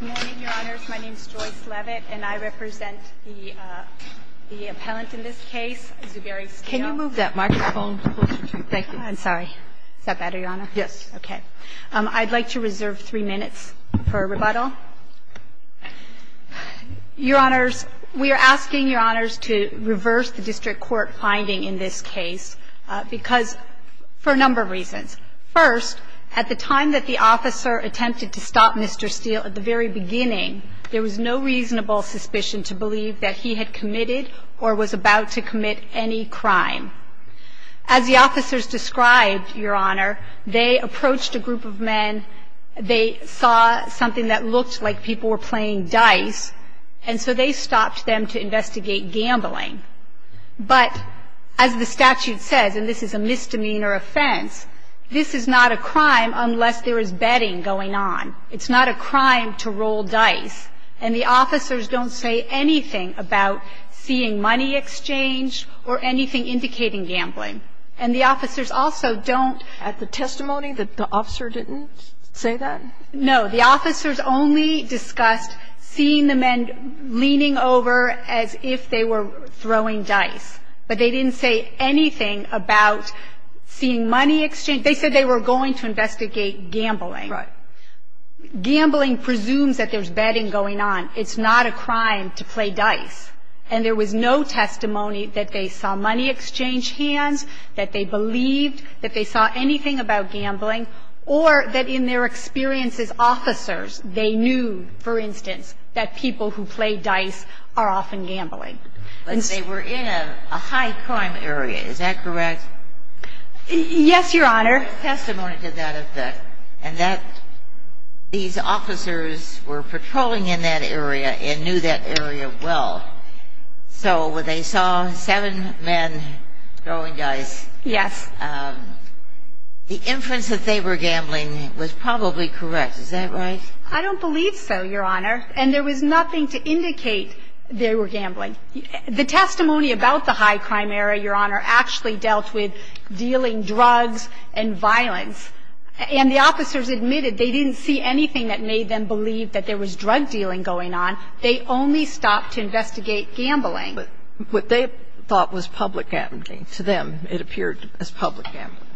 Good morning, Your Honors. My name is Joyce Leavitt, and I represent the appellant in this case, Zuberi Steel. Can you move that microphone closer to you? Thank you. I'm sorry. Is that better, Your Honor? Yes. Okay. I'd like to reserve three minutes for rebuttal. Your Honors, we are asking Your Honors to reverse the District Court finding in this case for a number of reasons. First, at the time that the officer attempted to stop Mr. Steel, at the very beginning, there was no reasonable suspicion to believe that he had committed or was about to commit any crime. As the officers described, Your Honor, they approached a group of men. They saw something that looked like people were playing dice, and so they stopped them to investigate gambling. But as the statute says, and this is a misdemeanor offense, this is not a crime unless there is betting going on. It's not a crime to roll dice. And the officers don't say anything about seeing money exchanged or anything indicating gambling. And the officers also don't ---- At the testimony, the officer didn't say that? No. The officers only discussed seeing the men leaning over as if they were throwing dice. But they didn't say anything about seeing money exchanged. They said they were going to investigate gambling. Right. Gambling presumes that there's betting going on. It's not a crime to play dice. And there was no testimony that they saw money exchange hands, that they believed that they saw anything about gambling, or that in their experience as officers, they knew, for instance, that people who play dice are often gambling. But they were in a high-crime area. Is that correct? Yes, Your Honor. Testimony to that effect, and that these officers were patrolling in that area and knew that area well. So they saw seven men throwing dice. Yes. The inference that they were gambling was probably correct. Is that right? I don't believe so, Your Honor. And there was nothing to indicate they were gambling. The testimony about the high-crime area, Your Honor, actually dealt with dealing drugs and violence. And the officers admitted they didn't see anything that made them believe that there was drug dealing going on. They only stopped to investigate gambling. But what they thought was public gambling, to them, it appeared as public gambling.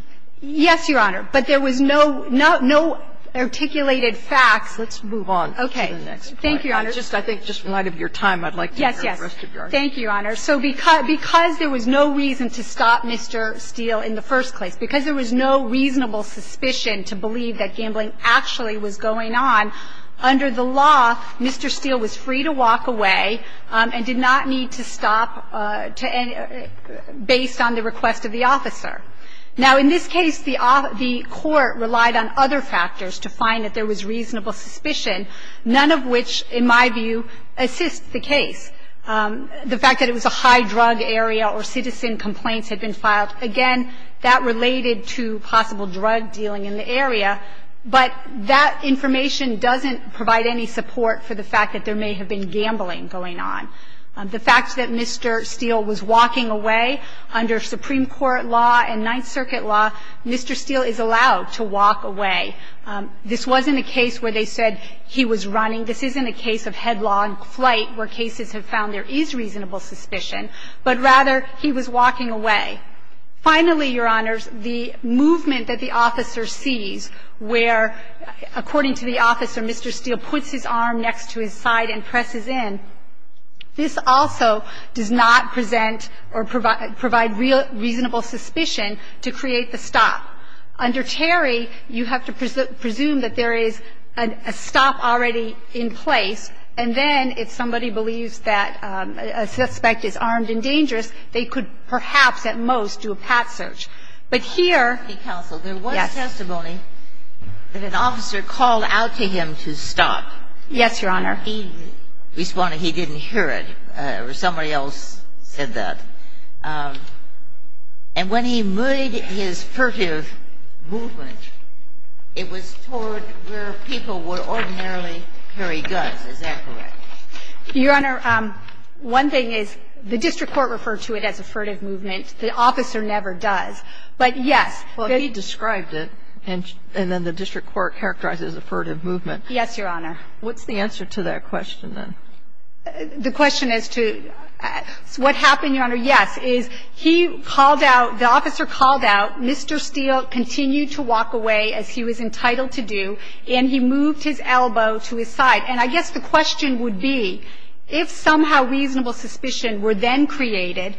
Yes, Your Honor. But there was no articulated facts. Let's move on to the next point. Okay. Thank you, Your Honor. I think just in light of your time, I'd like to hear the rest of your argument. Yes, yes. Thank you, Your Honor. So because there was no reason to stop Mr. Steele in the first place, because there was no reasonable suspicion to believe that gambling actually was going on, under the law, Mr. Steele was free to walk away and did not need to stop based on the request of the officer. Now, in this case, the court relied on other factors to find that there was reasonable suspicion, none of which, in my view, assists the case. The fact that it was a high-drug area or citizen complaints had been filed, again, that related to possible drug dealing in the area. But that information doesn't provide any support for the fact that there may have been gambling going on. The fact that Mr. Steele was walking away, under Supreme Court law and Ninth Circuit law, Mr. Steele is allowed to walk away. This wasn't a case where they said he was running. This isn't a case of headlong flight where cases have found there is reasonable suspicion, but rather he was walking away. Finally, Your Honors, the movement that the officer sees where, according to the officer, Mr. Steele puts his arm next to his side and presses in, this also does not present or provide reasonable suspicion to create the stop. Under Terry, you have to presume that there is a stop already in place, and then if somebody believes that a suspect is armed and dangerous, they could perhaps at most do a path search. But here Yes. There was testimony that an officer called out to him to stop. Yes, Your Honor. He responded he didn't hear it, or somebody else said that. And when he made his furtive movement, it was toward where people would ordinarily carry guns. Is that correct? Your Honor, one thing is the district court referred to it as a furtive movement. The officer never does. But, yes. Well, he described it, and then the district court characterized it as a furtive movement. Yes, Your Honor. What's the answer to that question, then? The question as to what happened, Your Honor, yes, is he called out, the officer called out. Mr. Steele continued to walk away as he was entitled to do, and he moved his elbow to his side. And I guess the question would be, if somehow reasonable suspicion were then created,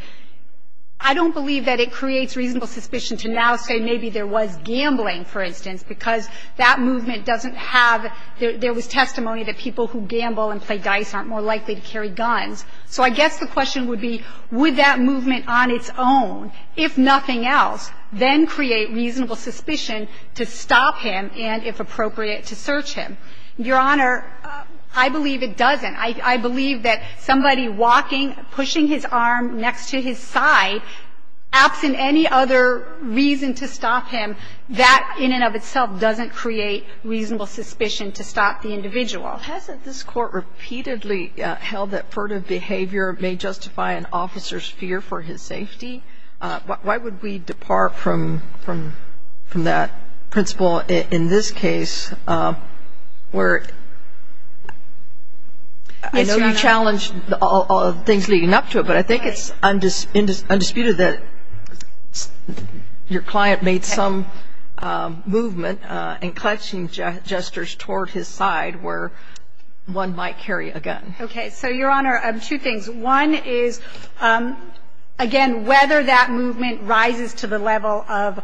I don't believe that it creates reasonable suspicion to now say maybe there was gambling, for instance, because that movement doesn't have the – there was testimony that people who gamble and play dice aren't more likely to carry guns. So I guess the question would be, would that movement on its own, if nothing else, then create reasonable suspicion to stop him and, if appropriate, to search him? Your Honor, I believe it doesn't. I believe that somebody walking, pushing his arm next to his side, absent any other reason to stop him, that in and of itself doesn't create reasonable suspicion to stop the individual. Hasn't this Court repeatedly held that furtive behavior may justify an officer's fear for his safety? Why would we depart from that principle in this case, where I know you challenged all the things leading up to it, but I think it's undisputed that your client made some movement in clutching gestures toward his side where one might carry a gun. Okay. So, Your Honor, two things. One is, again, whether that movement rises to the level of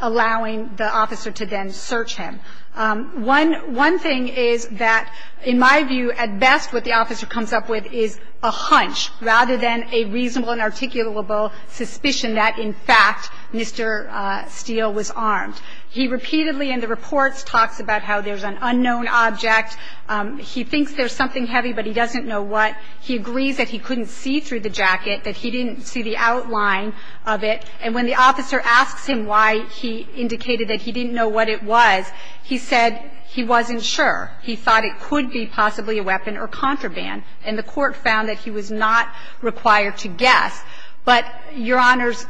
allowing the officer to then search him. One thing is that, in my view, at best what the officer comes up with is a hunch rather than a reasonable and articulable suspicion that, in fact, Mr. Steele was armed. He repeatedly in the reports talks about how there's an unknown object. He thinks there's something heavy, but he doesn't know what. He agrees that he couldn't see through the jacket, that he didn't see the outline of it, and when the officer asks him why he indicated that he didn't know what it was, he said he wasn't sure. He thought it could be possibly a weapon or contraband, and the Court found that he was not required to guess. But, Your Honors,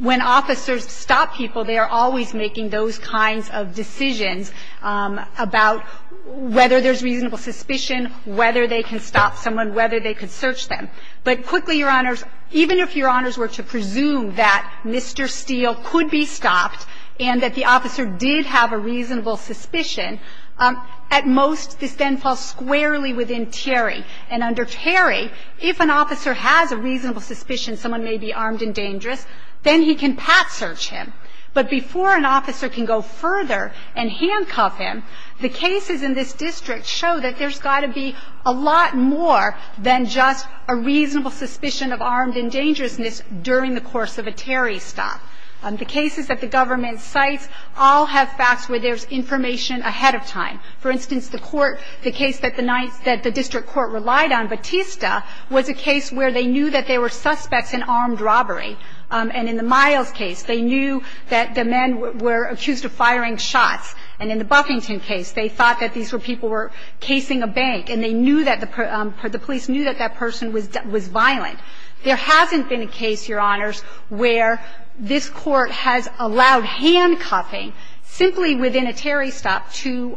when officers stop people, they are always making those kinds of decisions about whether there's reasonable suspicion, whether they can stop someone, whether they can search them. But quickly, Your Honors, even if Your Honors were to presume that Mr. Steele could be stopped and that the officer did have a reasonable suspicion, at most this then falls squarely within Terry. And under Terry, if an officer has a reasonable suspicion someone may be armed and dangerous, then he can pat search him. But before an officer can go further and handcuff him, the cases in this district show that there's got to be a lot more than just a reasonable suspicion of armed and dangerousness during the course of a Terry stop. The cases that the government cites all have facts where there's information ahead of time. For instance, the court, the case that the district court relied on, Batista, was a case where they knew that there were suspects in armed robbery. And in the Miles case, they knew that the men were accused of firing shots. And in the Buffington case, they thought that these were people were casing a bank. And they knew that the police knew that that person was violent. There hasn't been a case, Your Honors, where this Court has allowed handcuffing simply within a Terry stop to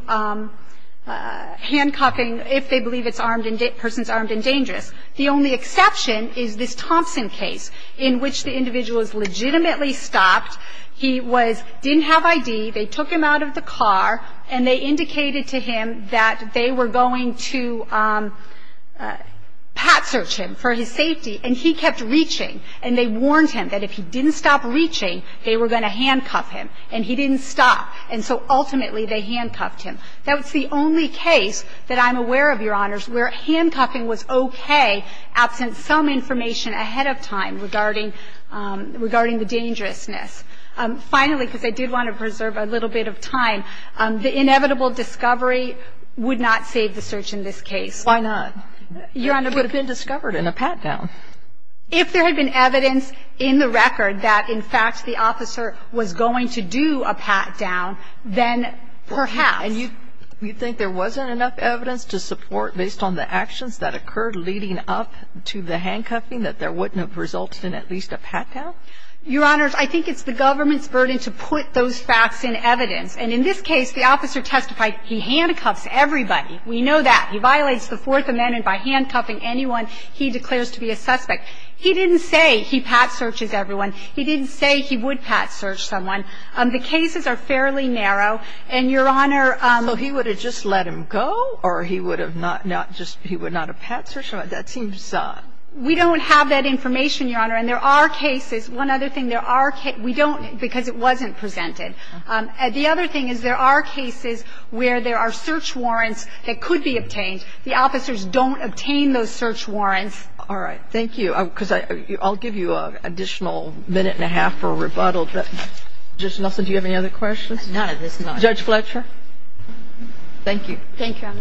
handcuffing if they believe it's armed and dangerous. The only exception is this Thompson case in which the individual is legitimately stopped. He was – didn't have ID. They took him out of the car, and they indicated to him that they were going to pat search him for his safety, and he kept reaching. And they warned him that if he didn't stop reaching, they were going to handcuff him. And he didn't stop. And so ultimately, they handcuffed him. That's the only case that I'm aware of, Your Honors, where handcuffing was okay absent some information ahead of time regarding the dangerousness. Finally, because I did want to preserve a little bit of time, the inevitable discovery would not save the search in this case. Why not? Your Honor, it would have been discovered in a pat-down. If there had been evidence in the record that, in fact, the officer was going to do a pat-down, then perhaps. And you think there wasn't enough evidence to support, based on the actions that occurred leading up to the handcuffing, that there wouldn't have resulted in at least a pat-down? Your Honors, I think it's the government's burden to put those facts in evidence. And in this case, the officer testified he handcuffs everybody. We know that. He violates the Fourth Amendment by handcuffing anyone he declares to be a suspect. He didn't say he pat searches everyone. He didn't say he would pat search someone. The cases are fairly narrow. And, Your Honor, So he would have just let him go? Or he would have not, not just, he would not have pat searched? That seems We don't have that information, Your Honor. And there are cases. One other thing, there are cases. We don't, because it wasn't presented. The other thing is there are cases where there are search warrants that could be obtained. The officers don't obtain those search warrants. All right. Thank you. Because I'll give you an additional minute and a half for rebuttal. Judge Nelson, do you have any other questions? None at this time. Judge Fletcher. Thank you. Thank you, Your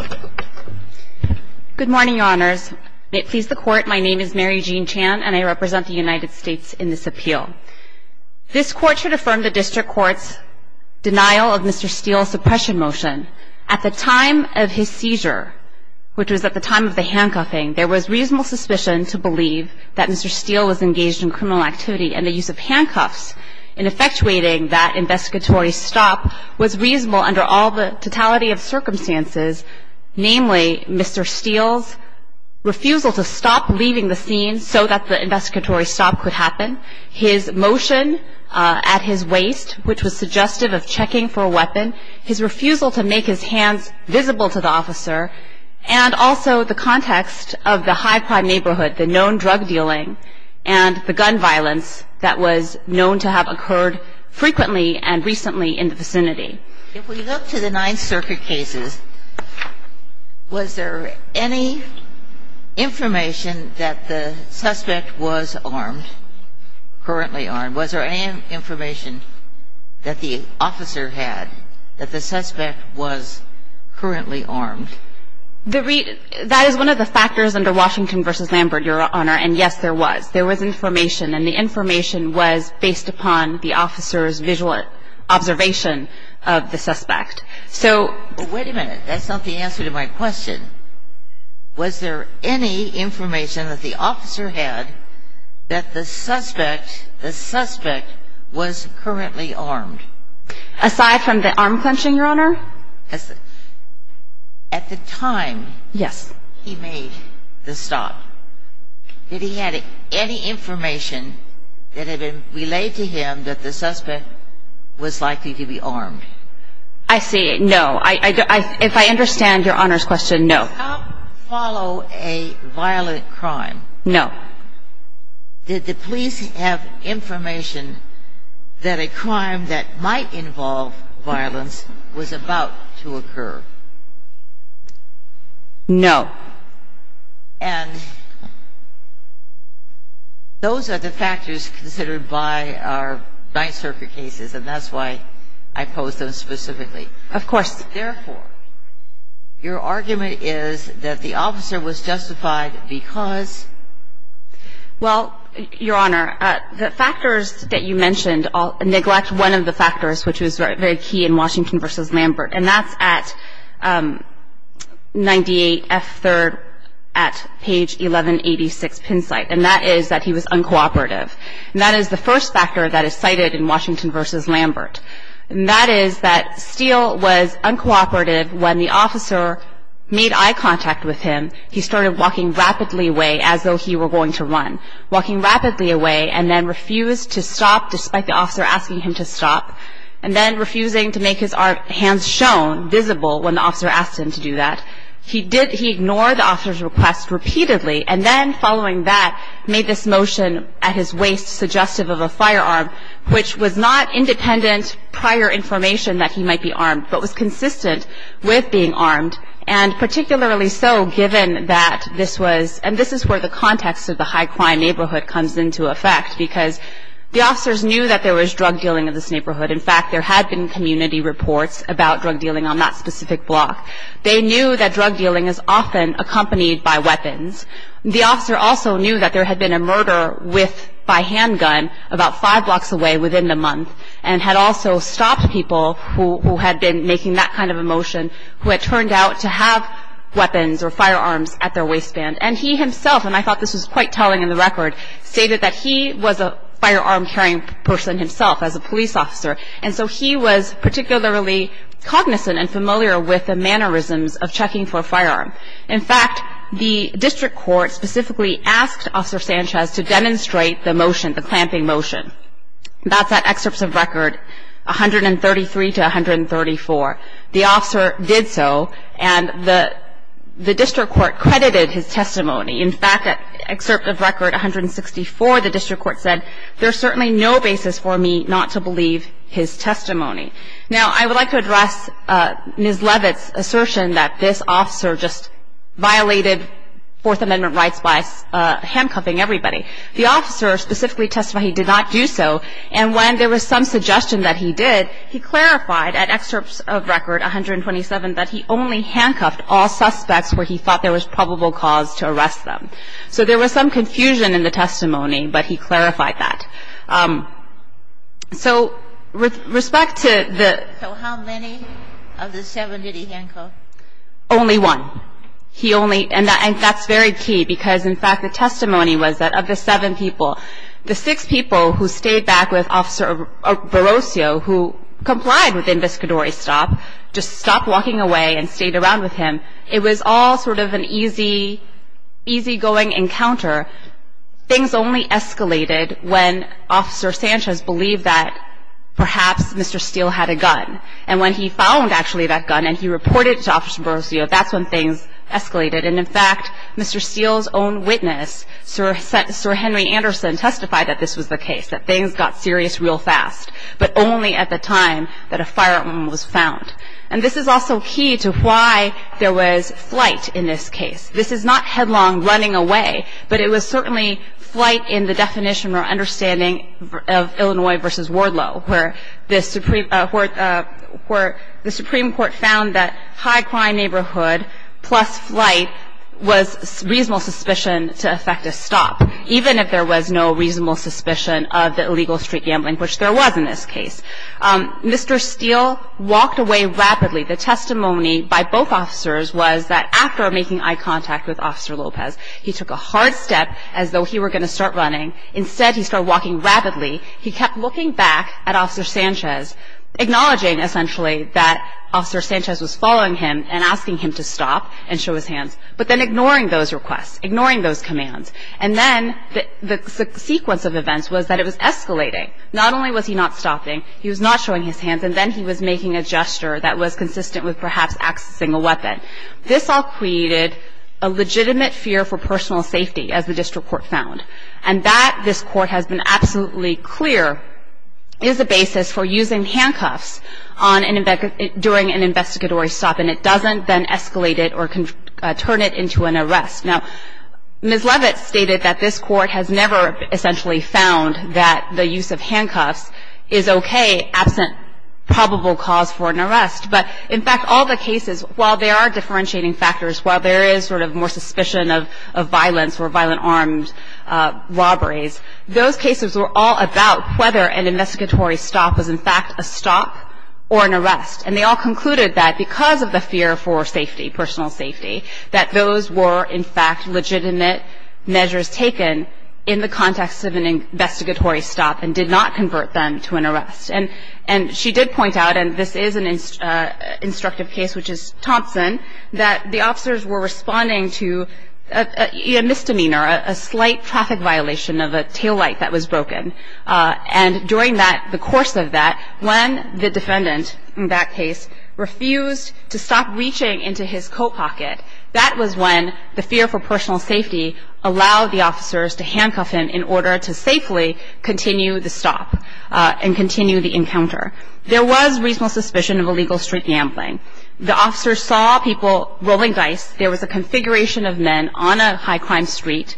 Honor. Good morning, Your Honors. May it please the Court, my name is Mary Jean Chan, and I represent the United States in this appeal. This Court should affirm the district court's denial of Mr. Steele's suppression motion. At the time of his seizure, which was at the time of the handcuffing, there was reasonable suspicion to believe that Mr. Steele was engaged in criminal activity and the use of handcuffs in effectuating that investigatory stop was reasonable under all the totality of circumstances, namely Mr. Steele's refusal to stop leaving the scene so that the investigatory stop could happen, his motion at his waist, which was suggestive of checking for a weapon, his refusal to make his hands visible to the officer, and also the context of the high-pride neighborhood, the known drug dealing and the gun violence that was known to have occurred frequently and recently in the vicinity. If we look to the Ninth Circuit cases, was there any information that the suspect was armed, currently armed? Was there any information that the officer had that the suspect was currently armed? That is one of the factors under Washington v. Lambert, Your Honor, and yes, there was. There was information, and the information was based upon the officer's visual observation of the suspect. Wait a minute. That's not the answer to my question. Was there any information that the officer had that the suspect was currently armed? Aside from the arm clenching, Your Honor? At the time he made the stop, did he have any information that had been relayed to him that the suspect was likely to be armed? I see. No. If I understand Your Honor's question, no. Did the cop follow a violent crime? No. Did the police have information that a crime that might involve violence was about to occur? No. And those are the factors considered by our Ninth Circuit cases, and that's why I pose those specifically. Of course. Therefore, your argument is that the officer was justified because? Well, Your Honor, the factors that you mentioned neglect one of the factors, which was very key in Washington v. Lambert, and that's at 98F3rd at page 1186, PIN site, and that is that he was uncooperative, and that is the first factor that is cited in Washington v. Lambert, and that is that Steele was uncooperative when the officer made eye contact with him. He started walking rapidly away as though he were going to run, walking rapidly away and then refused to stop despite the officer asking him to stop, and then refusing to make his hands shown, visible, when the officer asked him to do that. He ignored the officer's request repeatedly, and then following that, made this motion at his waist suggestive of a firearm, which was not independent prior information that he might be armed, but was consistent with being armed, and particularly so given that this was, and this is where the context of the high crime neighborhood comes into effect, because the officers knew that there was drug dealing in this neighborhood. In fact, there had been community reports about drug dealing on that specific block. They knew that drug dealing is often accompanied by weapons. The officer also knew that there had been a murder by handgun about five blocks away within the month, and had also stopped people who had been making that kind of a motion, who had turned out to have weapons or firearms at their waistband, and he himself, and I thought this was quite telling in the record, stated that he was a firearm carrying person himself as a police officer, and so he was particularly cognizant and familiar with the mannerisms of checking for a firearm. In fact, the district court specifically asked Officer Sanchez to demonstrate the motion, the clamping motion. That's at excerpts of record 133 to 134. The officer did so, and the district court credited his testimony. In fact, at excerpt of record 164, the district court said, there's certainly no basis for me not to believe his testimony. Now, I would like to address Ms. Leavitt's assertion that this officer just violated Fourth Amendment rights by handcuffing everybody. The officer specifically testified he did not do so, and when there was some suggestion that he did, he clarified at excerpts of record 127 that he only handcuffed all suspects where he thought there was probable cause to arrest them. So there was some confusion in the testimony, but he clarified that. So with respect to the ‑‑ So how many of the seven did he handcuff? Only one. He only ‑‑ and that's very key, because, in fact, the testimony was that of the seven people, the six people who stayed back with Officer Barossio, who complied with the investigatory stop, just stopped walking away and stayed around with him, it was all sort of an easy, easygoing encounter. Things only escalated when Officer Sanchez believed that perhaps Mr. Steele had a gun. And when he found, actually, that gun and he reported it to Officer Barossio, that's when things escalated. And, in fact, Mr. Steele's own witness, Sir Henry Anderson, testified that this was the case, that things got serious real fast, but only at the time that a firearm was found. And this is also key to why there was flight in this case. This is not headlong running away, but it was certainly flight in the definition or understanding of Illinois v. Wardlow, where the Supreme Court found that high crime neighborhood plus flight was reasonable suspicion to affect a stop, even if there was no reasonable suspicion of the illegal street gambling, which there was in this case. Mr. Steele walked away rapidly. The testimony by both officers was that after making eye contact with Officer Lopez, he took a hard step as though he were going to start running. Instead, he started walking rapidly. He kept looking back at Officer Sanchez, acknowledging, essentially, that Officer Sanchez was following him and asking him to stop and show his hands, but then ignoring those requests, ignoring those commands. And then the sequence of events was that it was escalating. Not only was he not stopping, he was not showing his hands, and then he was making a gesture that was consistent with perhaps accessing a weapon. This all created a legitimate fear for personal safety, as the district court found. And that, this Court has been absolutely clear, is a basis for using handcuffs during an investigatory stop, and it doesn't then escalate it or turn it into an arrest. Now, Ms. Levitt stated that this Court has never essentially found that the use of handcuffs is okay, absent probable cause for an arrest. But, in fact, all the cases, while there are differentiating factors, while there is sort of more suspicion of violence or violent armed robberies, those cases were all about whether an investigatory stop was, in fact, a stop or an arrest. And they all concluded that because of the fear for safety, personal safety, that those were, in fact, legitimate measures taken in the context of an investigatory stop and did not convert them to an arrest. And she did point out, and this is an instructive case, which is Thompson, that the officers were responding to a misdemeanor, a slight traffic violation of a taillight that was broken. And during that, the course of that, when the defendant in that case refused to stop reaching into his coat pocket, that was when the fear for personal safety allowed the officers to handcuff him in order to safely continue the stop and continue the encounter. There was reasonable suspicion of illegal street gambling. The officers saw people rolling dice. There was a configuration of men on a high-crime street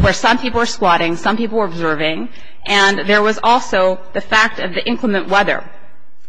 where some people were squatting, some people were observing, and there was also the fact of the inclement weather.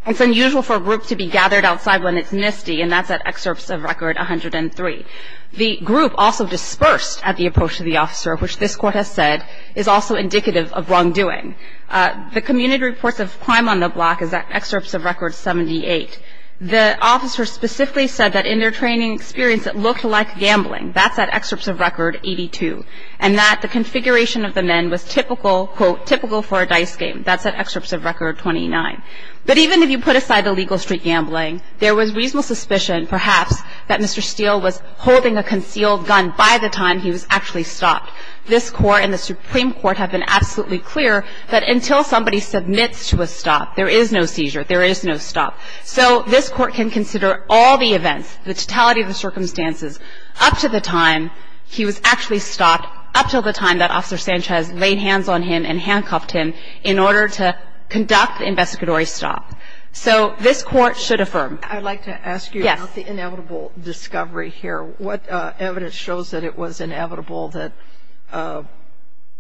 It's unusual for a group to be gathered outside when it's misty, and that's at Excerpts of Record 103. The group also dispersed at the approach of the officer, which this Court has said is also indicative of wrongdoing. The Community Reports of Crime on the Block is at Excerpts of Record 78. The officers specifically said that in their training experience, it looked like gambling. That's at Excerpts of Record 82, and that the configuration of the men was typical, quote, typical for a dice game. That's at Excerpts of Record 29. But even if you put aside illegal street gambling, there was reasonable suspicion, perhaps, that Mr. Steele was holding a concealed gun by the time he was actually stopped. This Court and the Supreme Court have been absolutely clear that until somebody submits to a stop, there is no seizure, there is no stop. So this Court can consider all the events, the totality of the circumstances, up to the time he was actually stopped, up to the time that Officer Sanchez laid hands on him and handcuffed him in order to conduct the investigatory stop. So this Court should affirm. I'd like to ask you about the inevitable discovery here. What evidence shows that it was inevitable that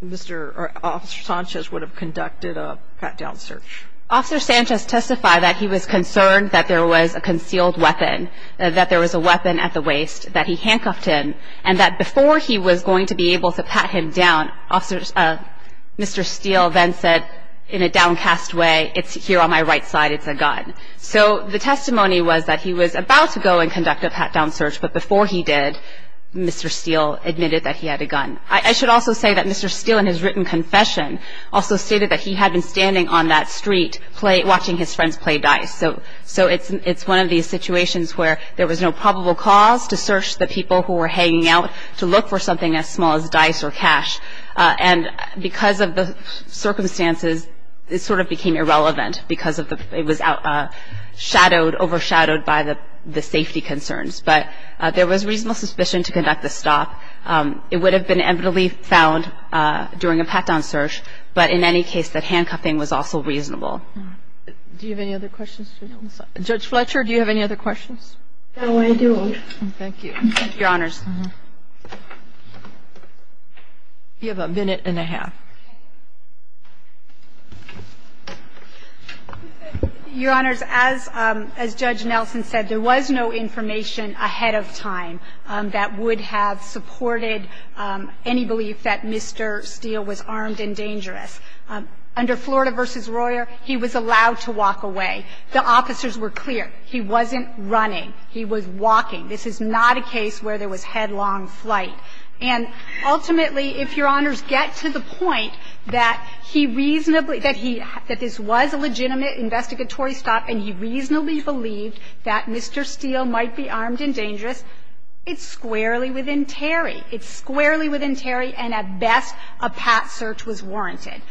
Mr. or Officer Sanchez would have conducted a pat-down search? Officer Sanchez testified that he was concerned that there was a concealed weapon, that there was a weapon at the waist, that he handcuffed him, and that before he was going to be able to pat him down, Mr. Steele then said in a downcast way, it's here on my right side, it's a gun. So the testimony was that he was about to go and conduct a pat-down search, but before he did, Mr. Steele admitted that he had a gun. I should also say that Mr. Steele, in his written confession, also stated that he had been standing on that street watching his friends play dice. So it's one of these situations where there was no probable cause to search the people who were hanging out to look for something as small as dice or cash. And because of the circumstances, it sort of became irrelevant because it was overshadowed by the safety concerns. But there was reasonable suspicion to conduct the stop. It would have been evidently found during a pat-down search, but in any case that handcuffing was also reasonable. Do you have any other questions? Judge Fletcher, do you have any other questions? No, I do. Thank you. Your Honors. You have a minute and a half. Your Honors, as Judge Nelson said, there was no information ahead of time that would have supported any belief that Mr. Steele was armed and dangerous. Under Florida v. Royer, he was allowed to walk away. The officers were clear. He wasn't running. He was walking. This is not a case where there was headlong flight. And ultimately, if Your Honors get to the point that he reasonably – that he – that this was a legitimate investigatory stop and he reasonably believed that Mr. Steele might be armed and dangerous, it's squarely within Terry. It's squarely within Terry, and at best, a pat search was warranted.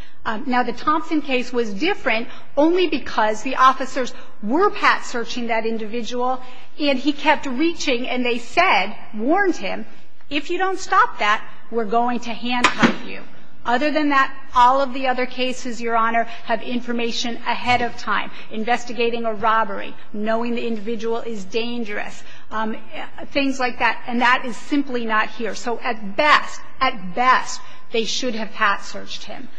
Now, the Thompson case was different only because the officers were pat searching that individual, and he kept reaching, and they said, warned him, if you don't stop that, we're going to handcuff you. Other than that, all of the other cases, Your Honor, have information ahead of time, investigating a robbery, knowing the individual is dangerous, things like that. And that is simply not here. So at best, at best, they should have pat searched him.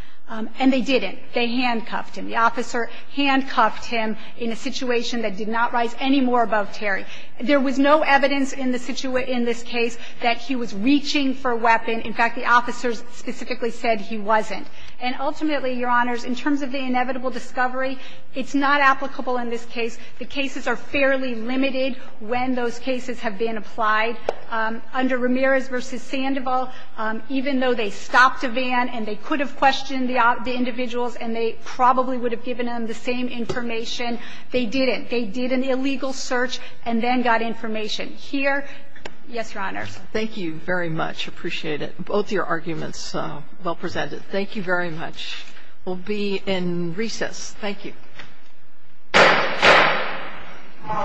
And they didn't. They handcuffed him. The officer handcuffed him in a situation that did not rise any more above Terry. There was no evidence in this case that he was reaching for a weapon. In fact, the officers specifically said he wasn't. And ultimately, Your Honors, in terms of the inevitable discovery, it's not applicable in this case. The cases are fairly limited when those cases have been applied. Under Ramirez v. Sandoval, even though they stopped a van and they could have questioned the individuals and they probably would have given them the same information, they didn't. They did an illegal search and then got information. Here – yes, Your Honors. Thank you very much. Appreciate it. Both your arguments well presented. Thank you very much. We'll be in recess. Thank you. All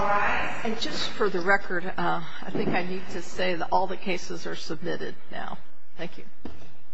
rise. And just for the record, I think I need to say that all the cases are submitted now. Thank you.